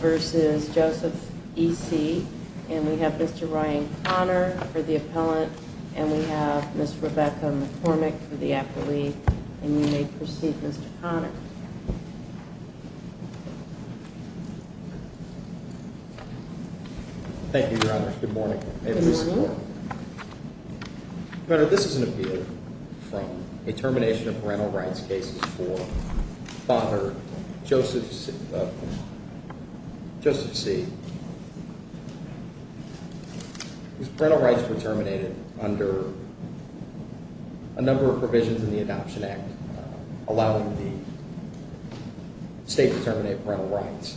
versus Joseph E.C., and we have Mr. Ryan Connor for the appellant, and we have Ms. Thank you, Your Honor. Good morning. Your Honor, this is an appeal from a termination of parental rights cases for Father Joseph C. His parental rights were terminated under a number of provisions in the Adoption Act, allowing the state to terminate parental rights.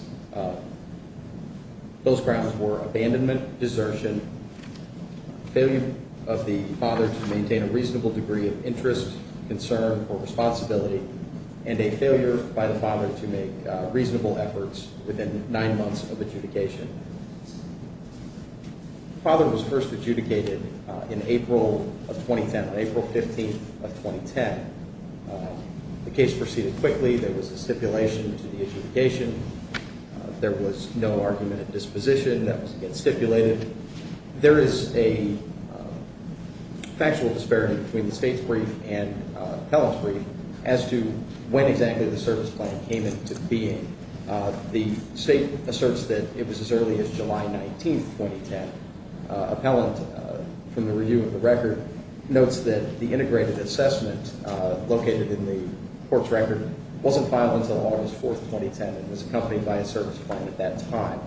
Those grounds were abandonment, desertion, failure of the father to maintain a reasonable degree of interest, concern, or responsibility, and a failure by the father to make reasonable efforts within nine months of adjudication. The father was first adjudicated in April of 2010, April 15th of 2010. The case proceeded quickly. There was a stipulation to the adjudication. There was no argument of disposition that was, again, stipulated. There is a factual disparity between the state's brief and appellant's brief as to when exactly the service plan came into being. The state asserts that it was as early as July 19th, 2010. The appellant, from the review of the record, notes that the integrated assessment located in the court's record wasn't filed until August 4th, 2010, and was accompanied by a service plan at that time.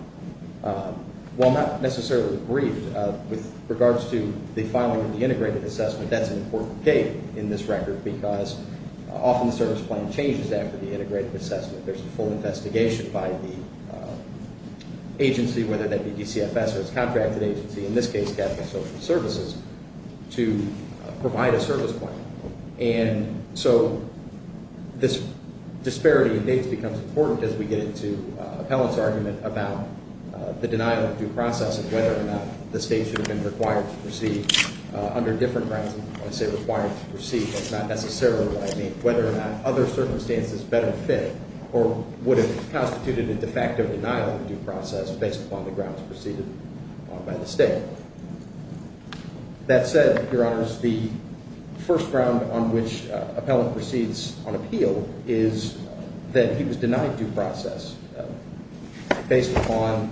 While not necessarily briefed with regards to the filing of the integrated assessment, that's an important date in this record because often the service plan changes after the integrated assessment. There's a full investigation by the agency, whether that be DCFS or its contracted agency, in this case, Capital Social Services, to provide a service plan. And so this disparity in dates becomes important as we get into appellant's argument about the denial of due process and whether or not the state should have been required to proceed under different grounds. And when I say required to proceed, that's not necessarily what I mean. Whether or not other circumstances better fit or would have constituted a de facto denial of due process based upon the grounds preceded on by the state. That said, Your Honors, the first ground on which appellant proceeds on appeal is that he was denied due process based upon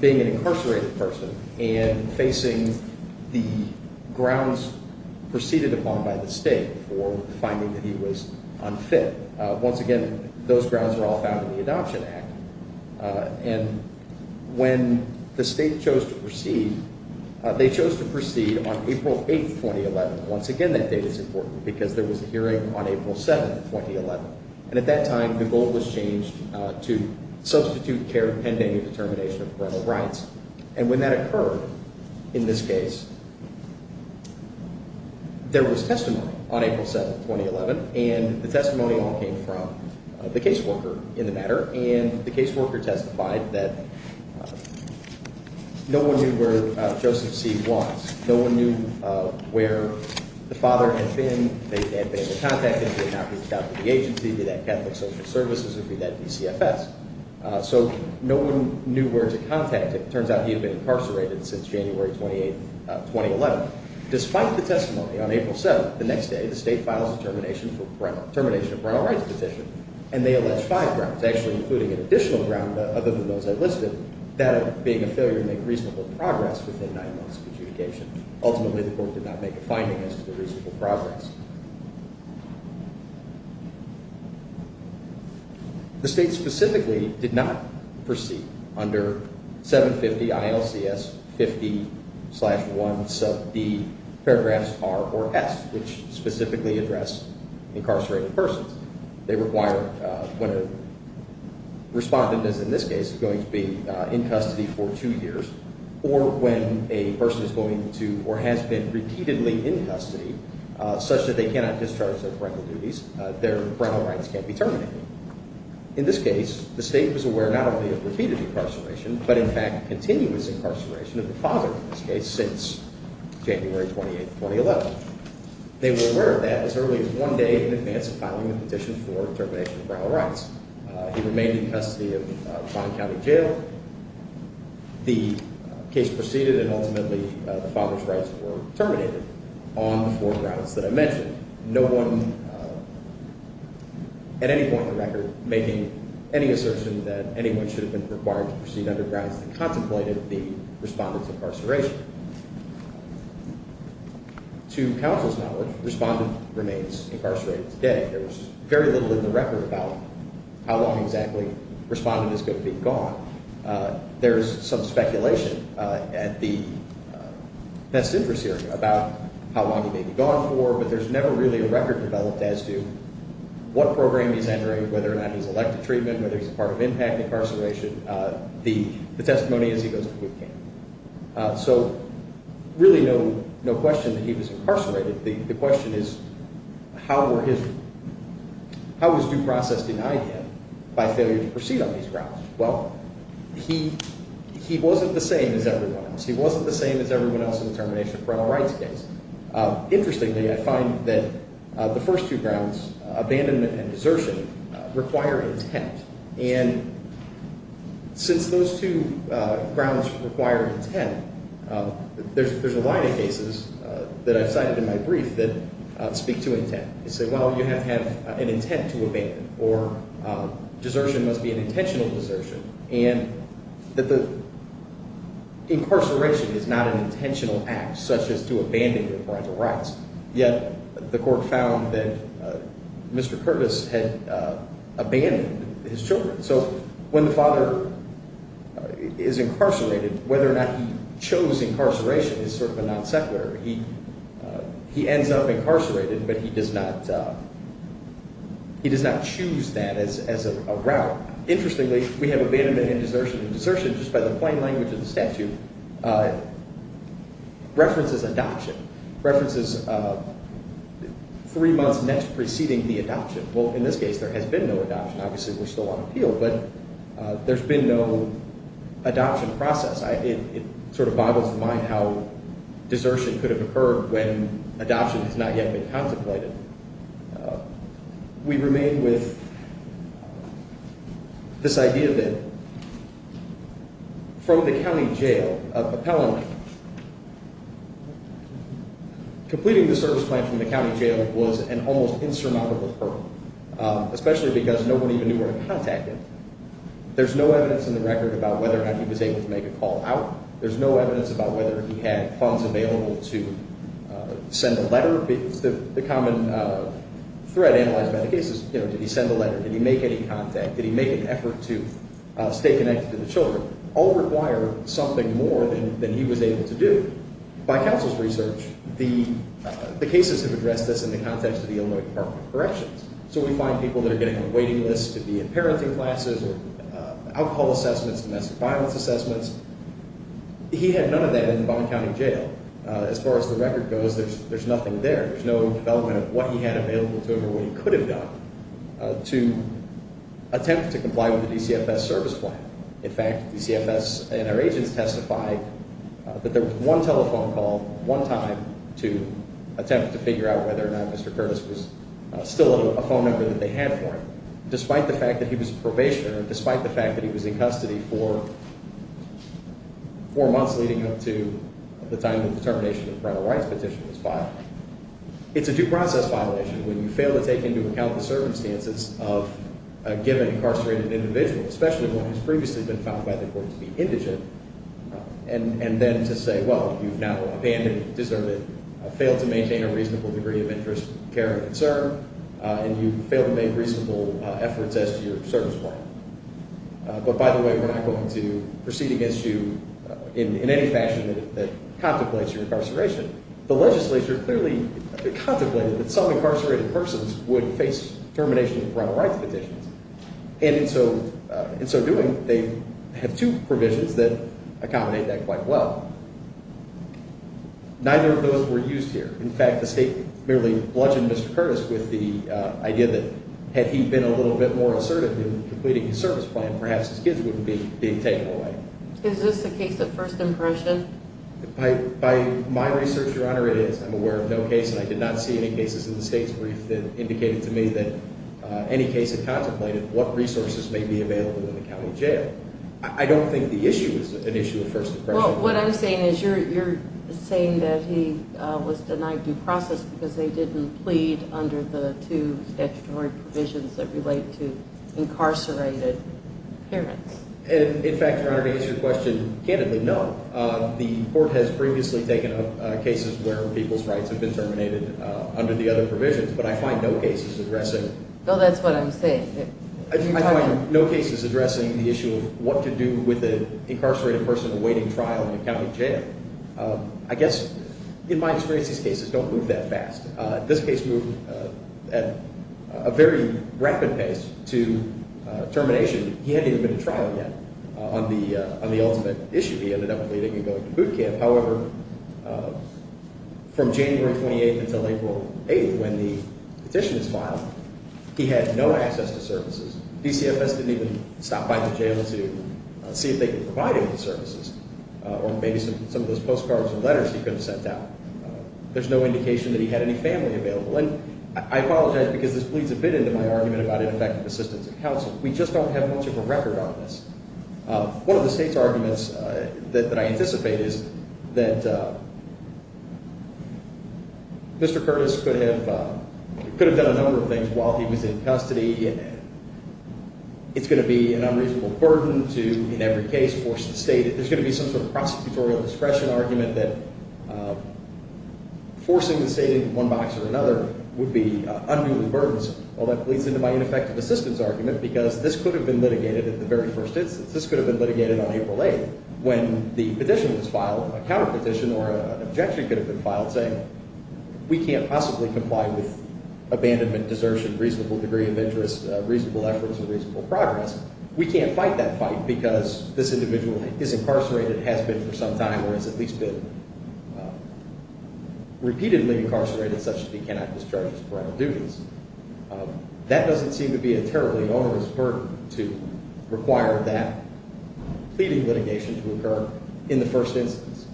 being an incarcerated person and facing the grounds preceded upon by the state for finding that he was unfit. Once again, those grounds are all found in the Adoption Act. And when the state chose to proceed, they chose to proceed on April 8th, 2011. Once again, that date is important because there was a hearing on April 7th, 2011. And at that time, the goal was changed to substitute care pending a determination of parental rights. And when that occurred in this case, there was testimony on April 7th, 2011. And the testimony all came from the caseworker in the matter. And the caseworker testified that no one knew where Joseph C. was. No one knew where the father had been. They had been able to contact him. He had not reached out to the agency, be that Catholic Social Services, or be that DCFS. So no one knew where to contact him. It turns out he had been incarcerated since January 28th, 2011. Despite the testimony, on April 7th, the next day, the state files a termination of parental rights petition. And they allege five grounds, actually including an additional ground other than those I listed, that being a failure to make reasonable progress within nine months of adjudication. Ultimately, the court did not make a finding as to the reasonable progress. The state specifically did not proceed under 750 ILCS 50-1 sub d paragraphs r or s, which specifically address incarcerated persons. They require when a respondent is, in this case, going to be in custody for two years, or when a person is going to or has been repeatedly in custody, such that they cannot discharge their parental duties, their parental rights can't be terminated. In this case, the state was aware not only of repeated incarceration, but in fact continuous incarceration of the father in this case since January 28th, 2011. They were aware of that as early as one day in advance of filing the petition for termination of parental rights. He remained in custody of Vaughan County Jail. The case proceeded, and ultimately the father's rights were terminated on the four grounds that I mentioned. No one, at any point in the record, making any assertion that anyone should have been required to proceed under grounds that contemplated the respondent's incarceration. To counsel's knowledge, the respondent remains incarcerated today. There's very little in the record about how long exactly the respondent is going to be gone. There's some speculation at the best interest hearing about how long he may be gone for, but there's never really a record developed as to what program he's entering, whether or not he's elect to treatment, whether he's a part of impact incarceration, the testimony as he goes to court came. So really no question that he was incarcerated. The question is how was due process denied him by failure to proceed on these grounds? Well, he wasn't the same as everyone else. He wasn't the same as everyone else in the termination of parental rights case. Interestingly, I find that the first two grounds, abandonment and desertion, require intent. And since those two grounds require intent, there's a line of cases that I've cited in my brief that speak to intent. They say, well, you have to have an intent to abandon, or desertion must be an intentional desertion, and that the incarceration is not an intentional act, such as to abandon your parental rights. Yet the court found that Mr. Curtis had abandoned his children. So when the father is incarcerated, whether or not he chose incarceration is sort of a non-secular. He ends up incarcerated, but he does not choose that as a route. Interestingly, we have abandonment and desertion. And desertion, just by the plain language of the statute, references adoption, references three months next preceding the adoption. Well, in this case, there has been no adoption. Obviously, we're still on appeal, but there's been no adoption process. It sort of boggles the mind how desertion could have occurred when adoption has not yet been contemplated. We remain with this idea that from the county jail, appellant completing the service plan from the county jail was an almost insurmountable hurdle, especially because no one even knew where to contact him. There's no evidence in the record about whether or not he was able to make a call out. There's no evidence about whether he had funds available to send a letter. It's the common threat analyzed by the cases. Did he send a letter? Did he make any contact? Did he make an effort to stay connected to the children? All require something more than he was able to do. By counsel's research, the cases have addressed this in the context of the Illinois Department of Corrections. So we find people that are getting on waiting lists to be in parenting classes or alcohol assessments, domestic violence assessments. He had none of that in the Bond County Jail. As far as the record goes, there's nothing there. There's no development of what he had available to him or what he could have done to attempt to comply with the DCFS service plan. In fact, the DCFS and our agents testified that there was one telephone call, one time, to attempt to figure out whether or not Mr. Curtis was still a phone number that they had for him, despite the fact that he was a probationer, despite the fact that he was in custody for four months leading up to the time the determination of parental rights petition was filed. It's a due process violation when you fail to take into account the circumstances of a given incarcerated individual, especially one who's previously been found by the court to be indigent, and then to say, well, you've now abandoned, deserved it, failed to maintain a reasonable degree of interest, care, and concern, and you've failed to make reasonable efforts as to your service plan. But by the way, we're not going to proceed against you in any fashion that contemplates your incarceration. The legislature clearly contemplated that some incarcerated persons would face termination of parental rights petitions. And in so doing, they have two provisions that accommodate that quite well. Neither of those were used here. In fact, the state merely bludgeoned Mr. Curtis with the idea that had he been a little bit more assertive in completing his service plan, perhaps his kids wouldn't be being taken away. Is this a case of first impression? By my research, Your Honor, it is. I'm aware of no case, and I did not see any cases in the state's brief that indicated to me that any case had contemplated what resources may be available in the county jail. I don't think the issue is an issue of first impression. Well, what I'm saying is you're saying that he was denied due process because they didn't plead under the two statutory provisions that relate to incarcerated parents. In fact, Your Honor, to answer your question candidly, no. The court has previously taken up cases where people's rights have been terminated under the other provisions, but I find no cases addressing the issue of what to do with an incarcerated person awaiting trial in the county jail. I guess, in my experience, these cases don't move that fast. This case moved at a very rapid pace to termination. He hadn't even been to trial yet on the ultimate issue. He ended up pleading and going to boot camp. However, from January 28th until April 8th, when the petition was filed, he had no access to services. DCFS didn't even stop by the jail to see if they could provide him with services or maybe some of those postcards and letters he could have sent out. There's no indication that he had any family available, and I apologize because this bleeds a bit into my argument about ineffective assistance of counsel. We just don't have much of a record on this. One of the state's arguments that I anticipate is that Mr. Curtis could have done a number of things while he was in custody. It's going to be an unreasonable burden to, in every case, force the state. There's going to be some sort of prosecutorial discretion argument that forcing the state into one box or another would be unduly burdensome. Well, that bleeds into my ineffective assistance argument because this could have been litigated at the very first instance. This could have been litigated on April 8th when the petition was filed, a counterpetition or an objection could have been filed saying we can't possibly comply with abandonment, desertion, reasonable degree of interest, reasonable efforts, and reasonable progress. We can't fight that fight because this individual is incarcerated, has been for some time, or has at least been repeatedly incarcerated such that he cannot discharge his criminal duties. That doesn't seem to be a terribly onerous burden to require that pleading litigation to occur in the first instance.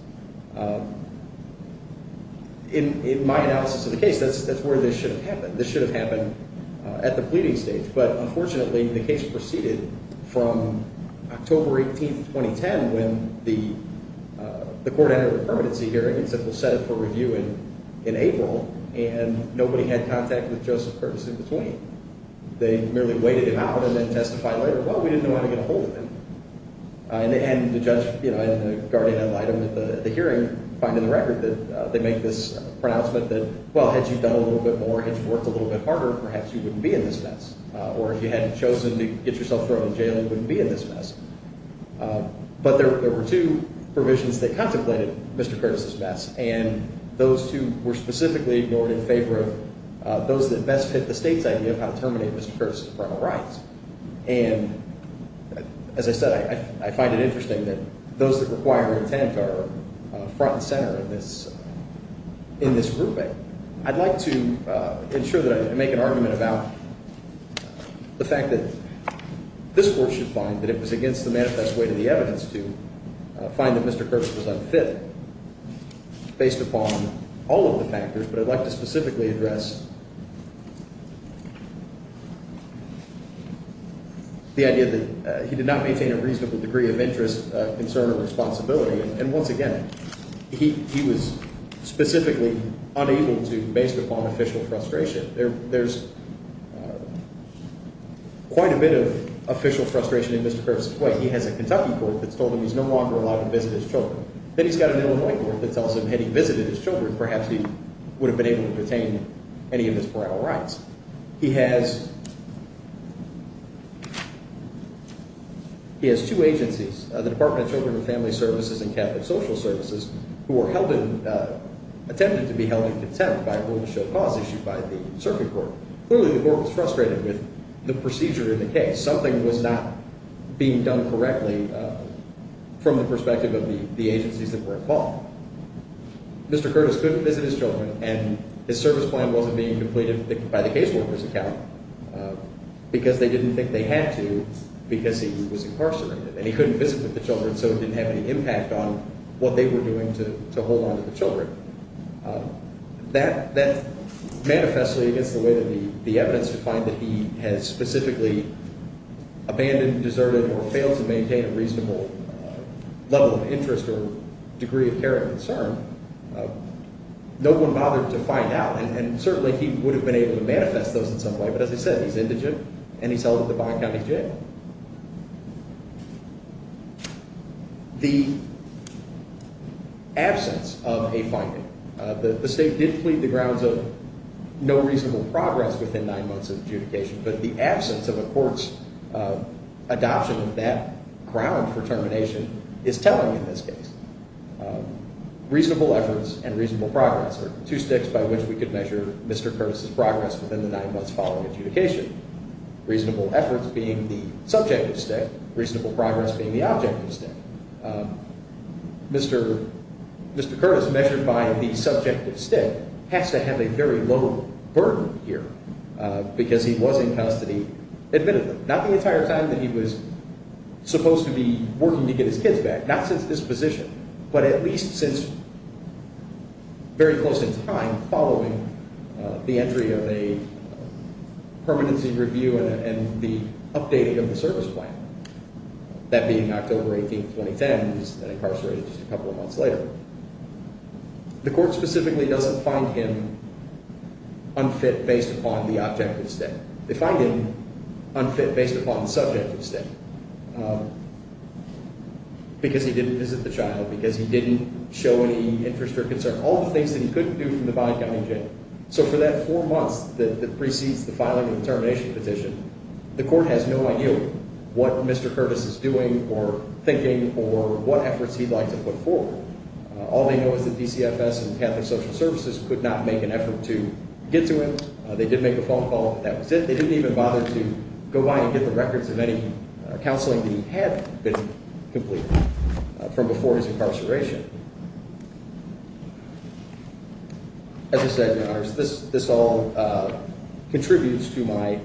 In my analysis of the case, that's where this should have happened. This should have happened at the pleading stage, but unfortunately the case proceeded from October 18th, 2010, when the court entered a permanency hearing and said we'll set it for review in April, and nobody had contact with Joseph Curtis in between. They merely waited him out and then testified later, well, we didn't know how to get a hold of him. And the judge, you know, and the guardian ad litem at the hearing find in the record that they make this pronouncement that, well, had you done a little bit more, had you worked a little bit harder, perhaps you wouldn't be in this mess. Or if you hadn't chosen to get yourself thrown in jail, you wouldn't be in this mess. But there were two provisions that contemplated Mr. Curtis's mess, and those two were specifically ignored in favor of those that best fit the state's idea of how to terminate Mr. Curtis's criminal rights. And as I said, I find it interesting that those that require intent are front and center in this grouping. I'd like to ensure that I make an argument about the fact that this court should find that it was against the manifest way to the evidence to find that Mr. Curtis was unfit based upon all of the factors, but I'd like to specifically address the idea that he did not maintain a reasonable degree of interest, concern, or responsibility. And once again, he was specifically unable to based upon official frustration. There's quite a bit of official frustration in Mr. Curtis's way. He has a Kentucky court that's told him he's no longer allowed to visit his children. Then he's got an Illinois court that tells him had he visited his children, perhaps he would have been able to retain any of his criminal rights. He has two agencies, the Department of Children and Family Services and Catholic Social Services, who were attempted to be held in contempt by a rule to show cause issued by the circuit court. Clearly, the court was frustrated with the procedure in the case. Something was not being done correctly from the perspective of the agencies that were called. Mr. Curtis couldn't visit his children, and his service plan wasn't being completed by the caseworker's account because they didn't think they had to because he was incarcerated. And he couldn't visit with the children, so it didn't have any impact on what they were doing to hold on to the children. That manifestly is the way that the evidence to find that he has specifically abandoned, deserted, or failed to maintain a reasonable level of interest or degree of care and concern. No one bothered to find out, and certainly he would have been able to manifest those in some way. But as I said, he's indigent, and he's held at the Bond County Jail. The absence of a finding. The state did plead the grounds of no reasonable progress within nine months of adjudication, but the absence of a court's adoption of that ground for termination is telling in this case. Reasonable efforts and reasonable progress are two sticks by which we could measure Mr. Curtis' progress within the nine months following adjudication. Reasonable efforts being the subjective stick. Reasonable progress being the objective stick. Mr. Curtis, measured by the subjective stick, has to have a very low burden here because he was in custody admittedly. Not the entire time that he was supposed to be working to get his kids back. Not since disposition, but at least since very close in time following the entry of a permanency review and the updating of the service plan, that being October 18, 2010. He was incarcerated just a couple of months later. The court specifically doesn't find him unfit based upon the objective stick. They find him unfit based upon the subjective stick because he didn't visit the child, because he didn't show any interest or concern. All the things that he couldn't do from the bond county jail. So for that four months that precedes the filing of the termination petition, the court has no idea what Mr. Curtis is doing or thinking or what efforts he'd like to put forward. All they know is that DCFS and Catholic Social Services could not make an effort to get to him. They did make a phone call, but that was it. They didn't even bother to go by and get the records of any counseling that he had been completing from before his incarceration. As I said, Your Honors, this all contributes to my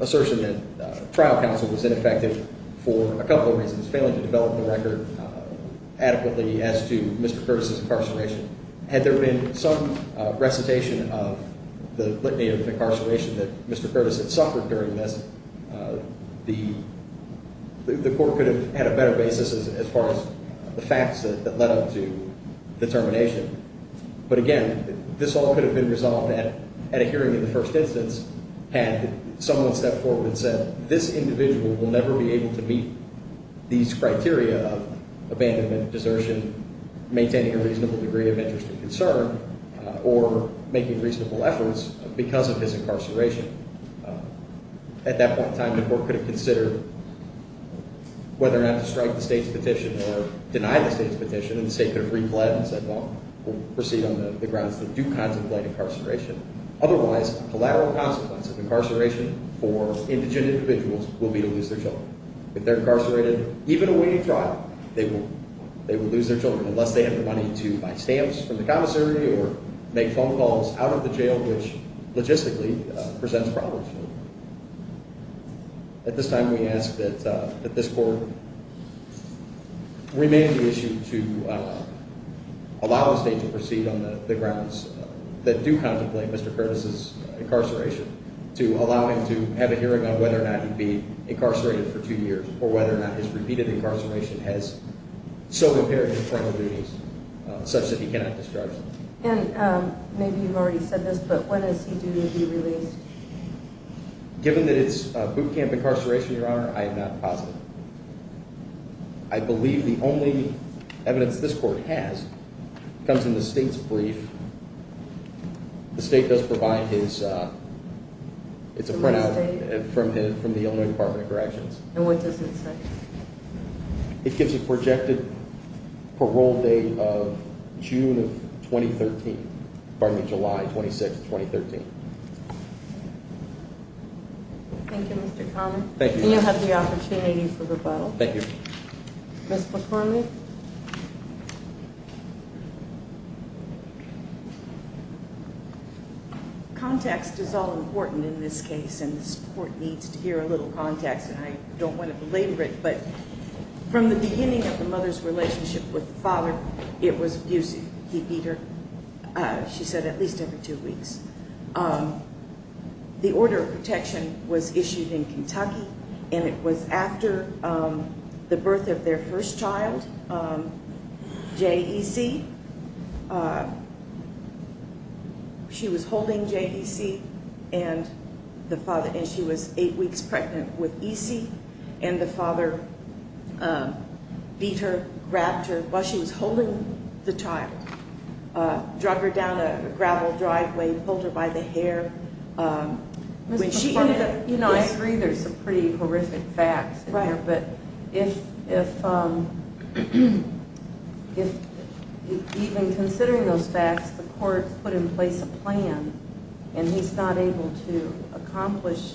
assertion that trial counsel was ineffective for a couple of reasons. Failing to develop the record adequately as to Mr. Curtis's incarceration. Had there been some recitation of the litany of incarceration that Mr. Curtis had suffered during this, the court could have had a better basis as far as the facts that led up to the termination. But again, this all could have been resolved at a hearing in the first instance had someone stepped forward and said, well, this individual will never be able to meet these criteria of abandonment, desertion, maintaining a reasonable degree of interest and concern, or making reasonable efforts because of his incarceration. At that point in time, the court could have considered whether or not to strike the state's petition or deny the state's petition, and the state could have reclaimed and said, well, we'll proceed on the grounds that you contemplate incarceration. Otherwise, a collateral consequence of incarceration for indigent individuals will be to lose their children. If they're incarcerated, even awaiting trial, they will lose their children, unless they have the money to buy stamps from the commissary or make phone calls out of the jail, which logistically presents problems for them. At this time, we ask that this court remain on the issue to allow the state to proceed on the grounds that do contemplate Mr. Curtis's incarceration, to allow him to have a hearing on whether or not he'd be incarcerated for two years or whether or not his repeated incarceration has so impaired his criminal duties such that he cannot discharge them. And maybe you've already said this, but when is he due to be released? Given that it's boot camp incarceration, Your Honor, I am not positive. I believe the only evidence this court has comes in the state's brief. The state does provide his – it's a printout from the Illinois Department of Corrections. And what does it say? It gives a projected parole date of June of 2013 – pardon me, July 26, 2013. Thank you, Mr. Conley. Thank you, Your Honor. And you'll have the opportunity for rebuttal. Thank you. Ms. McCormick? Context is all important in this case, and this court needs to hear a little context. And I don't want to belabor it, but from the beginning of the mother's relationship with the father, it was abusive. He beat her, she said, at least every two weeks. The order of protection was issued in Kentucky, and it was after the birth of their first child, JEC. She was holding JEC, and the father – and she was eight weeks pregnant with EC, and the father beat her, grabbed her while she was holding the child, drug her down a gravel driveway, pulled her by the hair. Ms. McCormick, you know, I agree there's some pretty horrific facts in there. Right. But if even considering those facts, the court put in place a plan, and he's not able to accomplish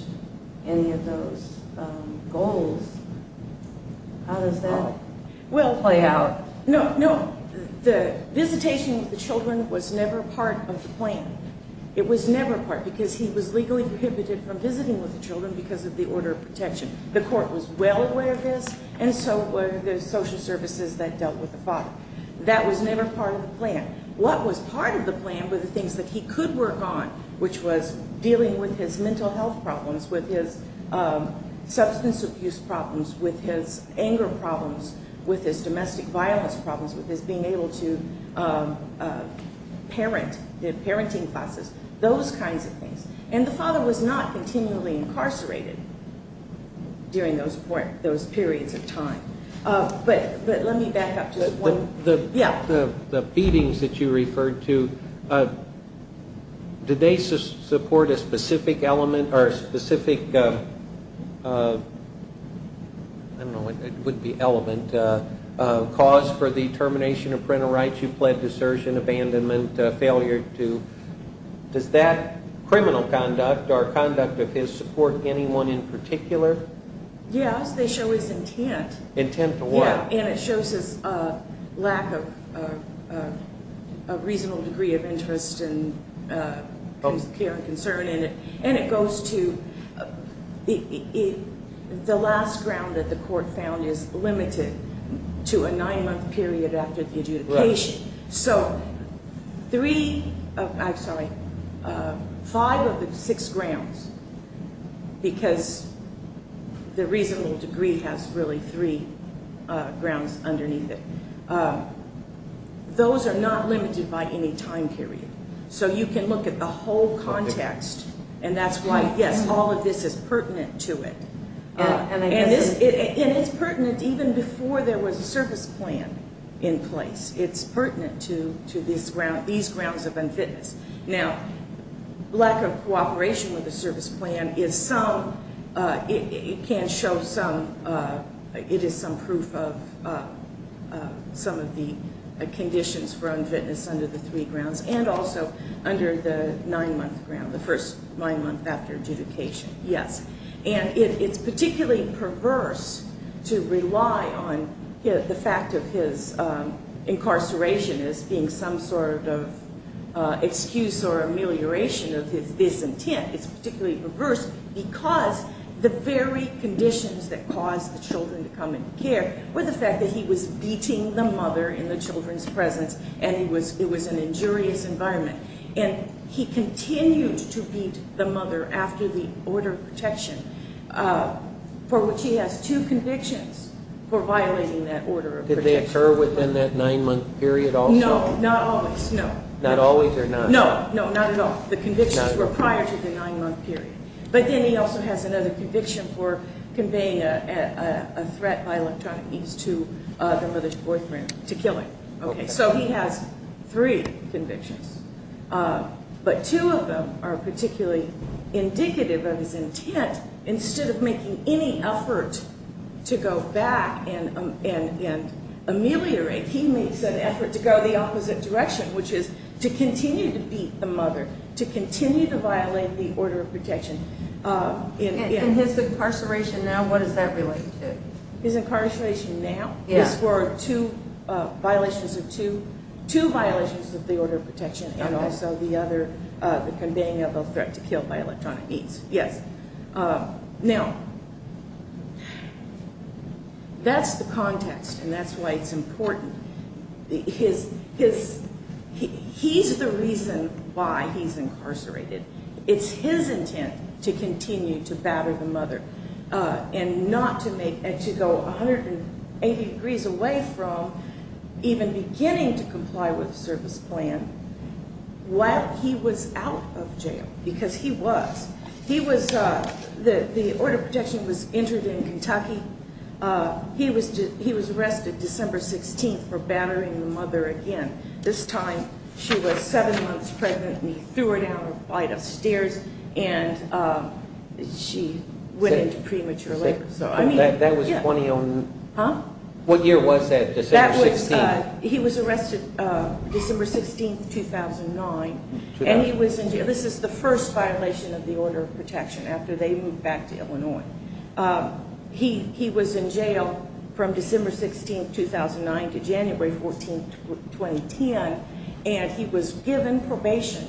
any of those goals, how does that play out? No, no. The visitation with the children was never part of the plan. It was never part, because he was legally prohibited from visiting with the children because of the order of protection. The court was well aware of this, and so were the social services that dealt with the father. That was never part of the plan. What was part of the plan were the things that he could work on, which was dealing with his mental health problems, with his substance abuse problems, with his anger problems, with his domestic violence problems, with his being able to parent, the parenting classes, those kinds of things. And the father was not continually incarcerated during those periods of time. But let me back up to one. The feedings that you referred to, did they support a specific element or a specific, I don't know, it wouldn't be element, cause for the termination of parental rights, you pled desertion, abandonment, failure to, does that criminal conduct or conduct of his support anyone in particular? Yes, they show his intent. Intent to what? Yeah, and it shows his lack of a reasonable degree of interest in his care and concern. And it goes to the last ground that the court found is limited to a nine month period after the adjudication. So three, I'm sorry, five of the six grounds, because the reasonable degree has really three grounds underneath it. Those are not limited by any time period. So you can look at the whole context and that's why, yes, all of this is pertinent to it. And it's pertinent even before there was a service plan in place. It's pertinent to these grounds of unfitness. Now, lack of cooperation with the service plan is some, it can show some, it is some proof of some of the conditions for unfitness under the three grounds. And also under the nine month ground, the first nine month after adjudication, yes. And it's particularly perverse to rely on the fact of his incarceration as being some sort of excuse or amelioration of his intent. It's particularly perverse because the very conditions that caused the children to come into care were the fact that he was beating the mother in the children's presence and it was an injurious environment. And he continued to beat the mother after the order of protection for which he has two convictions for violating that order of protection. Did they occur within that nine month period also? No, not always, no. Not always or not? No, no, not at all. The convictions were prior to the nine month period. But then he also has another conviction for conveying a threat by electronic means to the mother's boyfriend to kill him. Okay, so he has three convictions. But two of them are particularly indicative of his intent. Instead of making any effort to go back and ameliorate, he makes an effort to go the opposite direction, which is to continue to beat the mother, to continue to violate the order of protection. And his incarceration now, what does that relate to? His incarceration now is for two violations of the order of protection and also the conveying of a threat to kill by electronic means. Yes. Now, that's the context and that's why it's important. He's the reason why he's incarcerated. It's his intent to continue to batter the mother and to go 180 degrees away from even beginning to comply with the service plan while he was out of jail because he was. The order of protection was entered in Kentucky. He was arrested December 16th for battering the mother again. This time she was seven months pregnant and he threw her down a flight of stairs and she went into premature labor. That was 2010? Huh? What year was that, December 16th? He was arrested December 16th, 2009. And he was in jail. This is the first violation of the order of protection after they moved back to Illinois. He was in jail from December 16th, 2009 to January 14th, 2010, and he was given probation.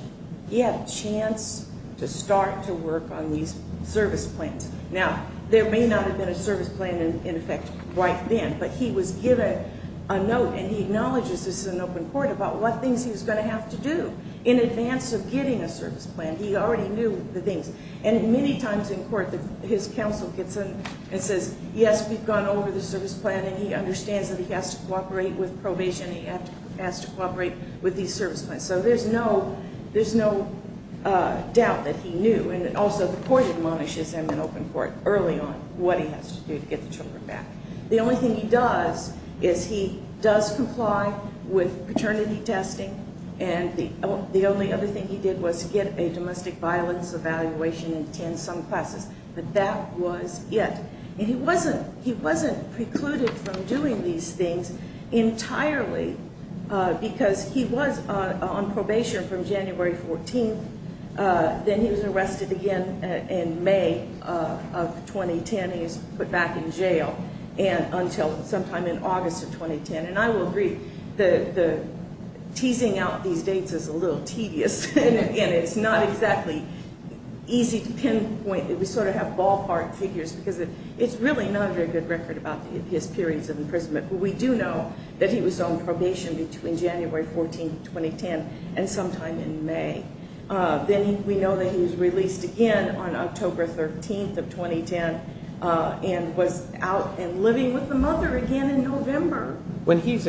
He had a chance to start to work on these service plans. Now, there may not have been a service plan in effect right then, but he was given a note, and he acknowledges this is an open court, about what things he was going to have to do in advance of getting a service plan. He already knew the things. And many times in court his counsel gets in and says, yes, we've gone over the service plan, and he understands that he has to cooperate with probation. He has to cooperate with these service plans. So there's no doubt that he knew. And also the court admonishes him in open court early on what he has to do to get the children back. The only thing he does is he does comply with paternity testing, and the only other thing he did was get a domestic violence evaluation in some classes. But that was it. And he wasn't precluded from doing these things entirely because he was on probation from January 14th. Then he was arrested again in May of 2010. He was put back in jail until sometime in August of 2010. And I will agree, teasing out these dates is a little tedious, and it's not exactly easy to pinpoint. We sort of have ballpark figures because it's really not a very good record about his periods of imprisonment. But we do know that he was on probation between January 14th, 2010, and sometime in May. Then we know that he was released again on October 13th of 2010 and was out and living with the mother again in November 2010. When he's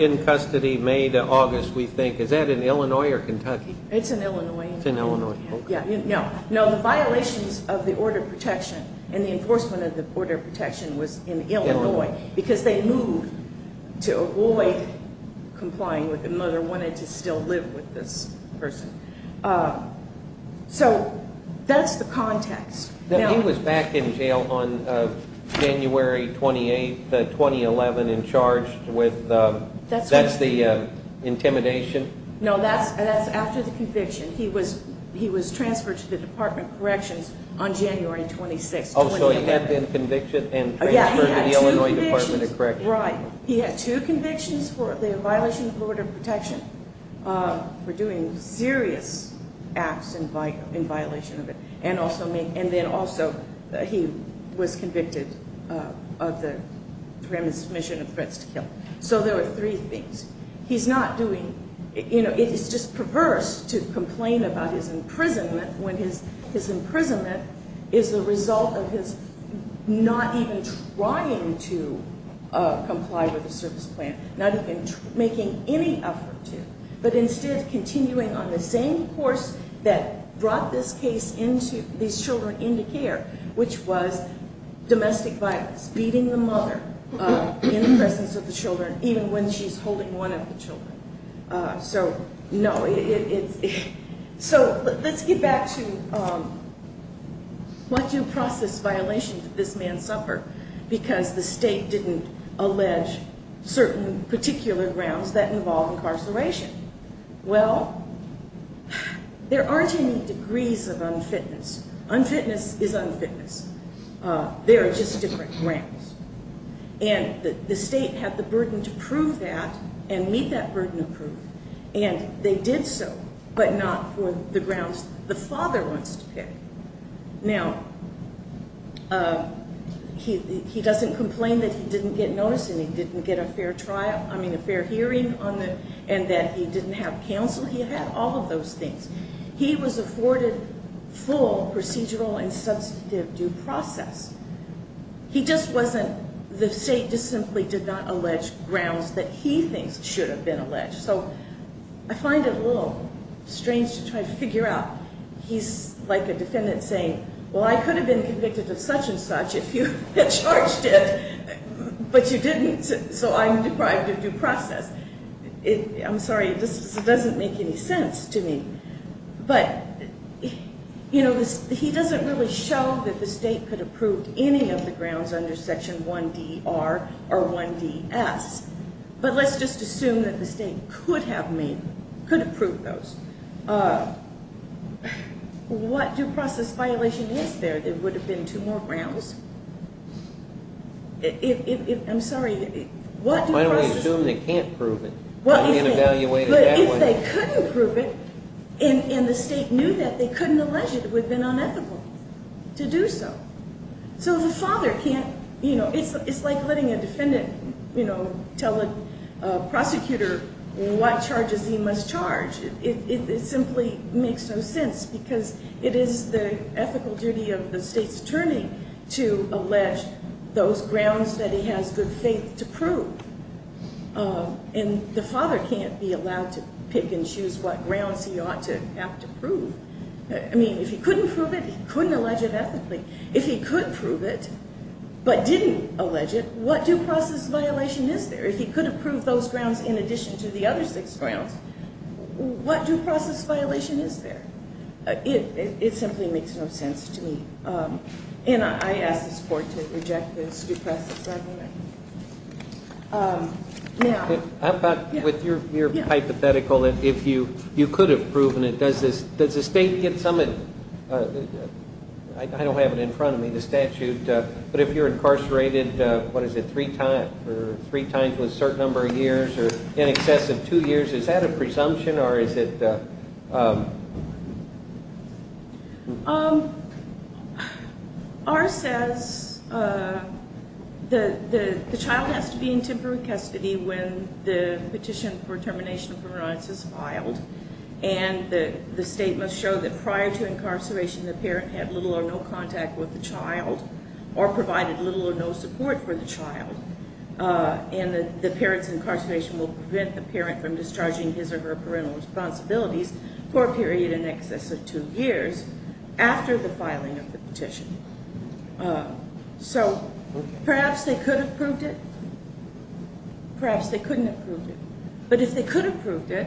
in custody, May to August, we think. Is that in Illinois or Kentucky? It's in Illinois. It's in Illinois. No, the violations of the order of protection and the enforcement of the order of protection was in Illinois because they moved to avoid complying with the mother wanting to still live with this person. So that's the context. He was back in jail on January 28th, 2011, and charged with intimidation? No, that's after the conviction. He was transferred to the Department of Corrections on January 26th, 2011. Oh, so he had been convicted and transferred to the Illinois Department of Corrections. Right. He had two convictions for the violation of the order of protection for doing serious acts in violation of it and then also he was convicted of the transmission of threats to kill. So there were three things. He's not doing, you know, it is just perverse to complain about his imprisonment when his imprisonment is the result of his not even trying to comply with the service plan, not even making any effort to, but instead continuing on the same course that brought these children into care, which was domestic violence, beating the mother in the presence of the children, even when she's holding one of the children. So let's get back to what due process violations did this man suffer because the state didn't allege certain particular grounds that involve incarceration. Well, there aren't any degrees of unfitness. Unfitness is unfitness. They are just different grounds. And the state had the burden to prove that and meet that burden of proof, and they did so, but not for the grounds the father wants to pick. Now, he doesn't complain that he didn't get noticed and he didn't get a fair hearing and that he didn't have counsel. He had all of those things. He was afforded full procedural and substantive due process. He just wasn't, the state just simply did not allege grounds that he thinks should have been alleged. So I find it a little strange to try to figure out. He's like a defendant saying, well, I could have been convicted of such and such if you had charged it, but you didn't, so I'm deprived of due process. I'm sorry, this doesn't make any sense to me. But, you know, he doesn't really show that the state could approve any of the grounds under Section 1DR or 1DS, but let's just assume that the state could have made, could approve those. What due process violation is there that would have been two more grounds? I'm sorry, what due process? Why don't we assume they can't prove it? They can't evaluate it that way. But if they couldn't prove it and the state knew that, they couldn't allege it would have been unethical to do so. So the father can't, you know, it's like letting a defendant, you know, tell a prosecutor what charges he must charge. It simply makes no sense because it is the ethical duty of the state's attorney to allege those grounds that he has good faith to prove. And the father can't be allowed to pick and choose what grounds he ought to have to prove. I mean, if he couldn't prove it, he couldn't allege it ethically. If he could prove it but didn't allege it, what due process violation is there? If he could approve those grounds in addition to the other six grounds, what due process violation is there? It simply makes no sense to me. And I ask this Court to reject this due process argument. Now. With your hypothetical, if you could have proven it, does the state get some of it? I don't have it in front of me, the statute. But if you're incarcerated, what is it, three times with a certain number of years or in excess of two years, is that a presumption or is it? R says the child has to be in temporary custody when the petition for termination of parental rights is filed. And the state must show that prior to incarceration, the parent had little or no contact with the child or provided little or no support for the child. And the parent's incarceration will prevent the parent from discharging his or her parental responsibilities for a period in excess of two years after the filing of the petition. So perhaps they could have proved it. Perhaps they couldn't have proved it. But if they could have proved it,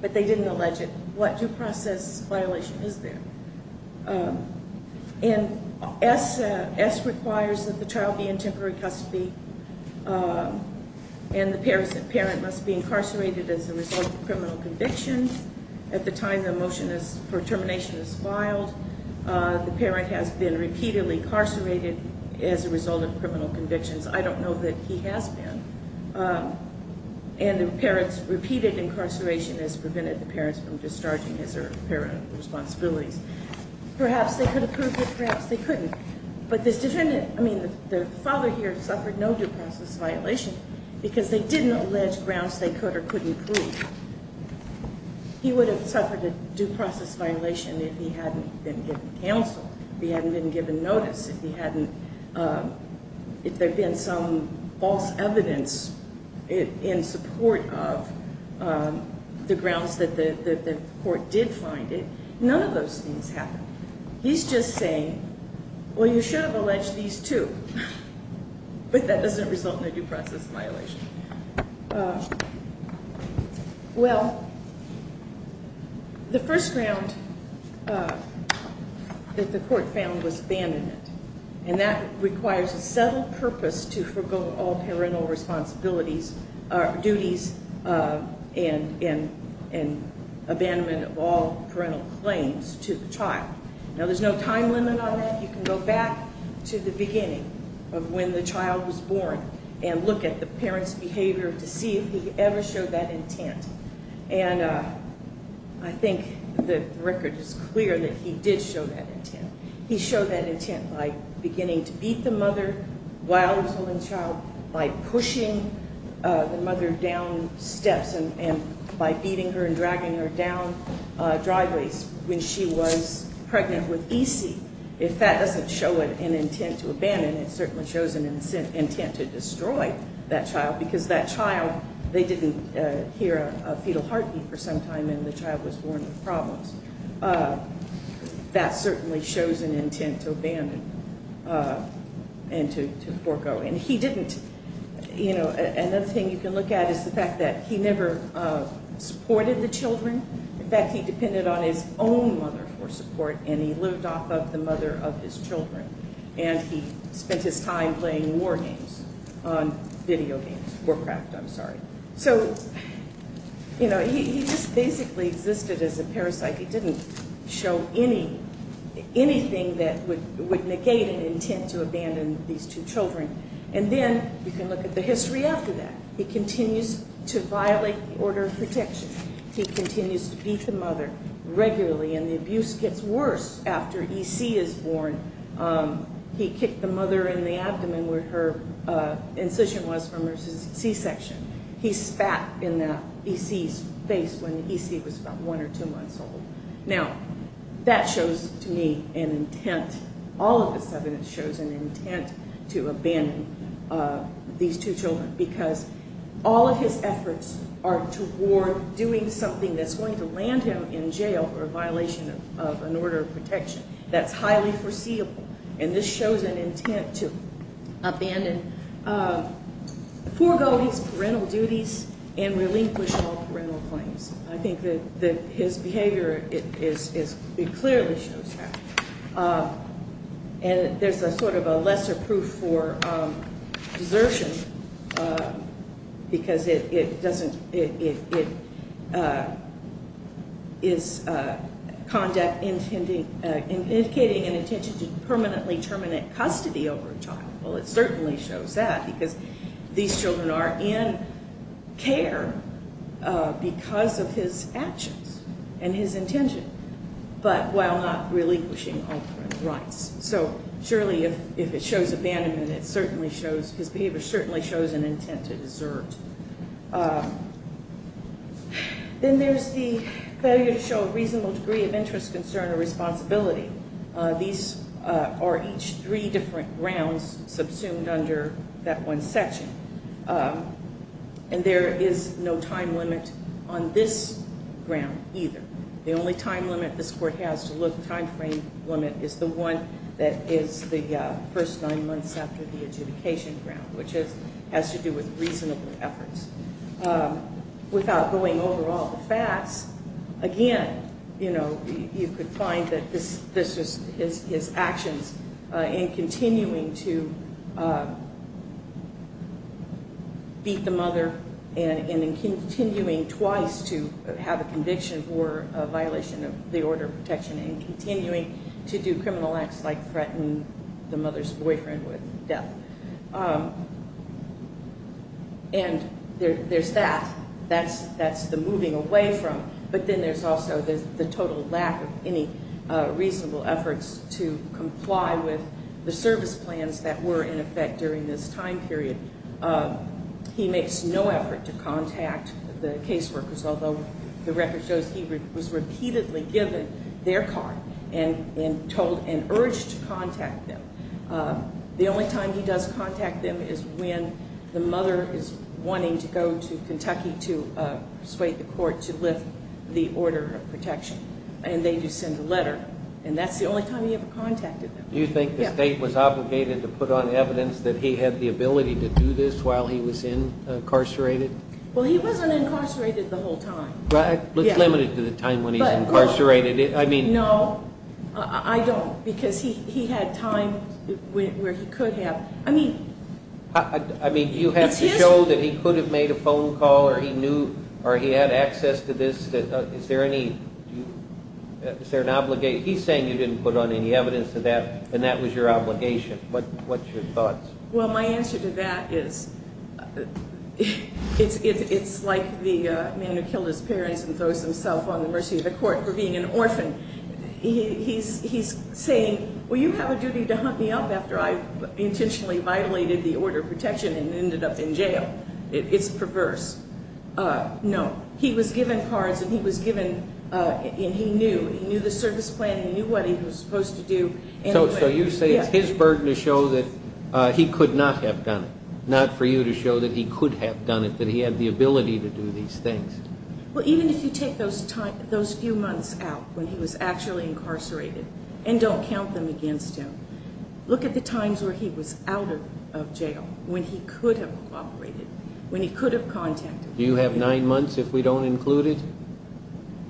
but they didn't allege it, what due process violation is there? And S requires that the child be in temporary custody. And the parent must be incarcerated as a result of criminal convictions at the time the motion for termination is filed. The parent has been repeatedly incarcerated as a result of criminal convictions. I don't know that he has been. And the parent's repeated incarceration has prevented the parents from discharging his or her responsibilities. Perhaps they could have proved it. Perhaps they couldn't. But this defendant, I mean, the father here suffered no due process violation because they didn't allege grounds they could or couldn't prove. He would have suffered a due process violation if he hadn't been given counsel, if he hadn't been given notice, if there had been some false evidence in support of the grounds that the court did find it. None of those things happened. He's just saying, well, you should have alleged these two. But that doesn't result in a due process violation. Well, the first ground that the court found was abandonment. And that requires a settled purpose to forego all parental responsibilities or duties and abandonment of all parental claims to the child. Now, there's no time limit on that. You can go back to the beginning of when the child was born and look at the parent's behavior to see if he ever showed that intent. And I think the record is clear that he did show that intent. He showed that intent by beginning to beat the mother while she was holding the child, by pushing the mother down steps and by beating her and dragging her down driveways when she was pregnant with E.C. If that doesn't show an intent to abandon, it certainly shows an intent to destroy that child because that child, they didn't hear a fetal heartbeat for some time and the child was born with problems. That certainly shows an intent to abandon and to forego. And he didn't, you know, another thing you can look at is the fact that he never supported the children. In fact, he depended on his own mother for support and he lived off of the mother of his children. And he spent his time playing war games on video games, Warcraft, I'm sorry. So, you know, he just basically existed as a parasite. He didn't show anything that would negate an intent to abandon these two children. And then you can look at the history after that. He continues to violate the order of protection. He continues to beat the mother regularly and the abuse gets worse after E.C. is born. He kicked the mother in the abdomen where her incision was from her C-section. He spat in E.C.'s face when E.C. was about one or two months old. Now, that shows to me an intent, all of this evidence shows an intent to abandon these two children because all of his efforts are toward doing something that's going to land him in jail or a violation of an order of protection that's highly foreseeable. And this shows an intent to abandon foregoings, parental duties, and relinquish all parental claims. I think that his behavior, it clearly shows that. And there's a sort of a lesser proof for desertion because it doesn't, it is conduct, indicating an intention to permanently terminate custody over a child. Well, it certainly shows that because these children are in care because of his actions and his intention. But while not relinquishing all parental rights. So, surely if it shows abandonment, it certainly shows, his behavior certainly shows an intent to desert. Then there's the failure to show a reasonable degree of interest, concern, or responsibility. These are each three different grounds subsumed under that one section. And there is no time limit on this ground either. The only time limit this court has to look, time frame limit, is the one that is the first nine months after the adjudication ground, which has to do with reasonable efforts. Without going over all the facts, again, you know, you could find that this was his actions in continuing to beat the mother and in continuing twice to have a conviction for a violation of the order of protection and continuing to do criminal acts like threaten the mother's boyfriend with death. And there's that, that's the moving away from, but then there's also the total lack of any reasonable efforts to comply with the service plans that were in effect during this time period. He makes no effort to contact the case workers, although the record shows he was repeatedly given their card and told and urged to contact them. The only time he does contact them is when the mother is wanting to go to Kentucky to persuade the court to lift the order of protection. And they do send a letter, and that's the only time he ever contacted them. Do you think the state was obligated to put on evidence that he had the ability to do this while he was incarcerated? Well, he wasn't incarcerated the whole time. It's limited to the time when he's incarcerated. No, I don't, because he had time where he could have. I mean, do you have to show that he could have made a phone call or he had access to this? Is there any, is there an obligation? He's saying you didn't put on any evidence of that and that was your obligation. What's your thoughts? Well, my answer to that is it's like the man who killed his parents and throws himself on the mercy of the court for being an orphan. He's saying, well, you have a duty to hunt me up after I intentionally violated the order of protection and ended up in jail. It's perverse. No, he was given cards and he was given, and he knew, he knew the service plan, he knew what he was supposed to do. So you say it's his burden to show that he could not have done it, not for you to show that he could have done it, that he had the ability to do these things. Well, even if you take those few months out when he was actually incarcerated and don't count them against him, look at the times where he was out of jail, when he could have cooperated, when he could have contacted. Do you have nine months if we don't include it?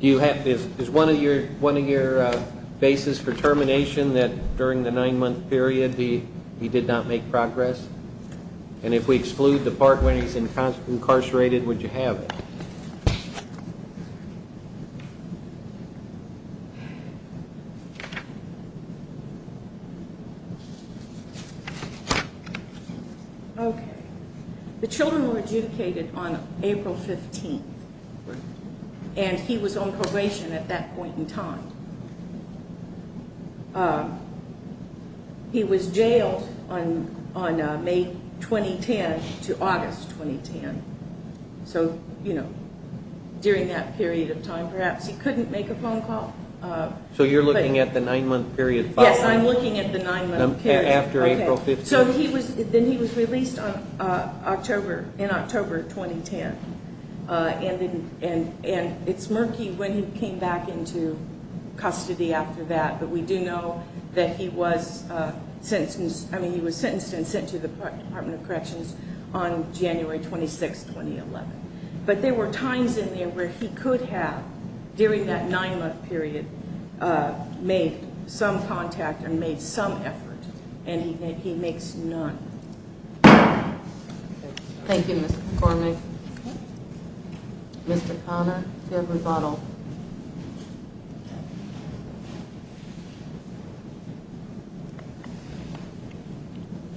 Is one of your bases for termination that during the nine-month period he did not make progress? And if we exclude the part when he's incarcerated, would you have it? Okay. The children were adjudicated on April 15th, and he was on probation at that point in time. He was jailed on May 2010 to August 2010. So, you know, during that period of time perhaps he couldn't make a phone call. So you're looking at the nine-month period following? Yes, I'm looking at the nine-month period. After April 15th. So then he was released in October 2010. And it's murky when he came back into custody after that, but we do know that he was sentenced and sent to the Department of Corrections on January 26th, 2011. But there were times in there where he could have, during that nine-month period, made some contact and made some effort, and he makes none. Thank you, Ms. McCormick. Mr. Connor, do you have a rebuttal?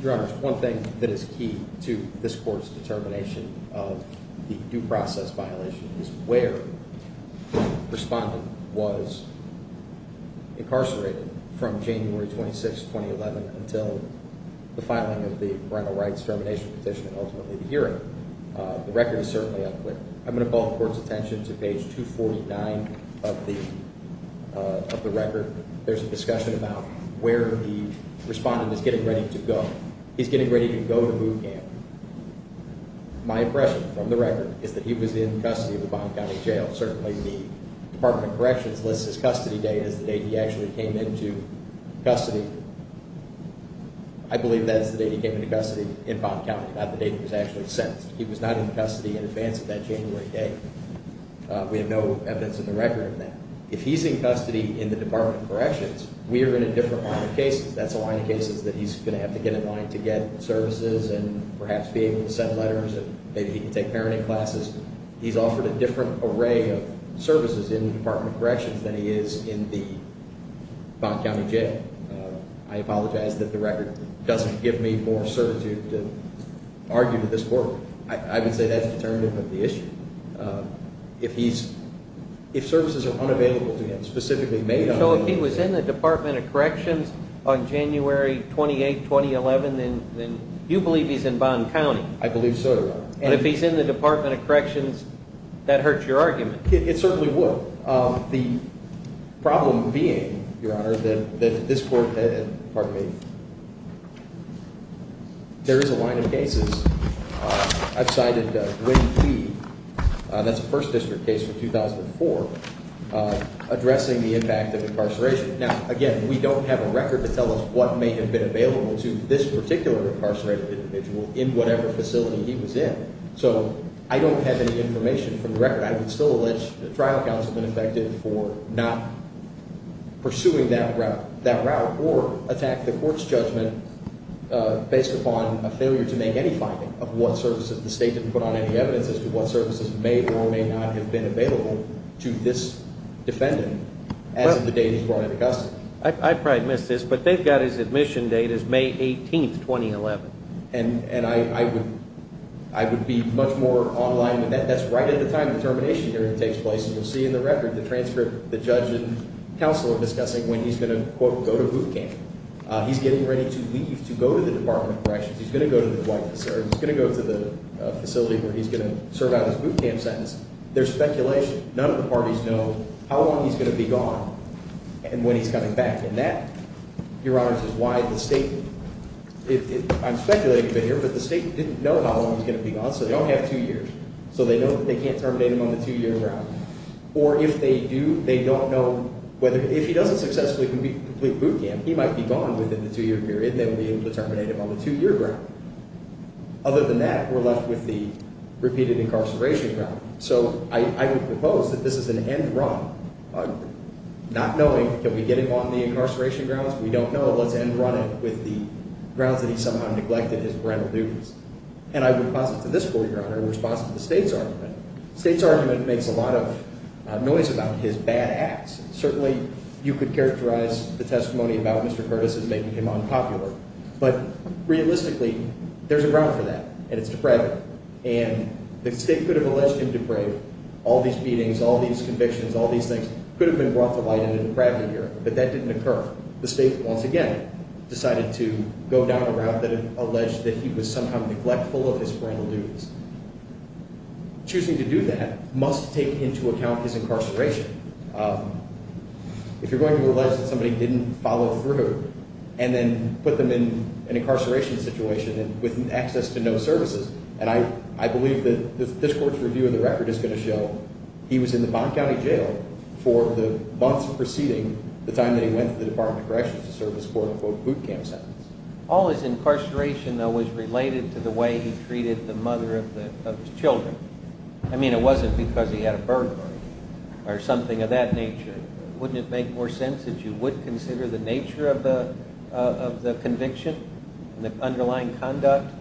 Your Honor, one thing that is key to this court's determination of the due process violation is where the respondent was incarcerated from January 26th, 2011, until the filing of the parental rights termination petition and ultimately the hearing. The record is certainly unclear. I'm going to ball the Court's attention to page 249 of the record. There's a discussion about where the respondent is getting ready to go. He's getting ready to go to boot camp. My impression from the record is that he was in custody of the Bond County Jail. Certainly the Department of Corrections lists his custody date as the date he actually came into custody. I believe that is the date he came into custody in Bond County, not the date he was actually sentenced. He was not in custody in advance of that January date. We have no evidence in the record of that. If he's in custody in the Department of Corrections, we are in a different line of cases. That's a line of cases that he's going to have to get in line to get services and perhaps be able to send letters and maybe he can take parenting classes. He's offered a different array of services in the Department of Corrections than he is in the Bond County Jail. I apologize that the record doesn't give me more certitude to argue to this Court. I would say that's determinative of the issue. So if he was in the Department of Corrections on January 28, 2011, then you believe he's in Bond County? I believe so, Your Honor. And if he's in the Department of Corrections, that hurts your argument? It certainly would. The problem being, Your Honor, that this Court had, pardon me, there is a line of cases. I've cited Gwynne P. That's a First District case from 2004 addressing the impact of incarceration. Now, again, we don't have a record to tell us what may have been available to this particular incarcerated individual in whatever facility he was in. So I don't have any information from the record. But I would still allege the trial counsel has been affected for not pursuing that route or attack the Court's judgment based upon a failure to make any finding of what services. The State didn't put on any evidence as to what services may or may not have been available to this defendant as of the date he was brought into custody. I probably missed this, but they've got his admission date as May 18, 2011. And I would be much more online with that. That's right at the time the termination hearing takes place. And you'll see in the record the transcript the judge and counsel are discussing when he's going to, quote, go to boot camp. He's getting ready to leave, to go to the Department of Corrections. He's going to go to the White House, or he's going to go to the facility where he's going to serve out his boot camp sentence. There's speculation. None of the parties know how long he's going to be gone and when he's coming back. And that, Your Honors, is why the State didn't. I'm speculating a bit here, but the State didn't know how long he was going to be gone, so they only have two years. So they know that they can't terminate him on the two-year ground. Or if they do, they don't know whether – if he doesn't successfully complete boot camp, he might be gone within the two-year period, and they won't be able to terminate him on the two-year ground. Other than that, we're left with the repeated incarceration ground. So I would propose that this is an end run, not knowing, can we get him on the incarceration grounds? If we don't know, let's end run it with the grounds that he somehow neglected his parental duties. And I would posit to this court, Your Honor, in response to the State's argument, the State's argument makes a lot of noise about his bad acts. Certainly, you could characterize the testimony about Mr. Curtis as making him unpopular. But realistically, there's a ground for that, and it's depravity. And the State could have alleged him depraved. All these beatings, all these convictions, all these things could have been brought to light in a depravity hearing, but that didn't occur. The State, once again, decided to go down a route that alleged that he was somehow neglectful of his parental duties. Choosing to do that must take into account his incarceration. If you're going to allege that somebody didn't follow through and then put them in an incarceration situation with access to no services, and I believe that this court's review of the record is going to show he was in the Bonn County Jail for the months preceding the time that he went to the Department of Corrections to serve his quote-unquote boot camp sentence. All his incarceration, though, was related to the way he treated the mother of his children. I mean, it wasn't because he had a burglary or something of that nature. Wouldn't it make more sense that you would consider the nature of the conviction and the underlying conduct?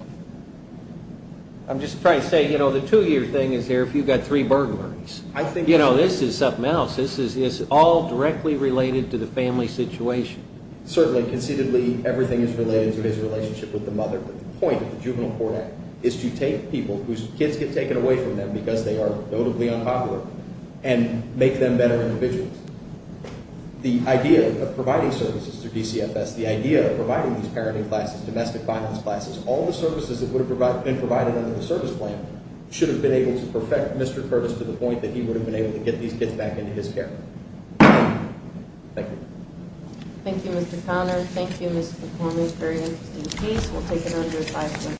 I'm just trying to say, you know, the two-year thing is here if you've got three burglaries. You know, this is something else. This is all directly related to the family situation. Certainly. Conceitedly, everything is related to his relationship with the mother. The point of the Juvenile Court Act is to take people whose kids get taken away from them because they are notably unpopular and make them better individuals. The idea of providing services through DCFS, the idea of providing these parenting classes, domestic finance classes, all the services that would have been provided under the service plan should have been able to perfect Mr. Curtis to the point that he would have been able to get these kids back into his care. Thank you. Thank you, Mr. Connor. Thank you, Mr. McCormick. Very interesting case. We'll take another five minutes.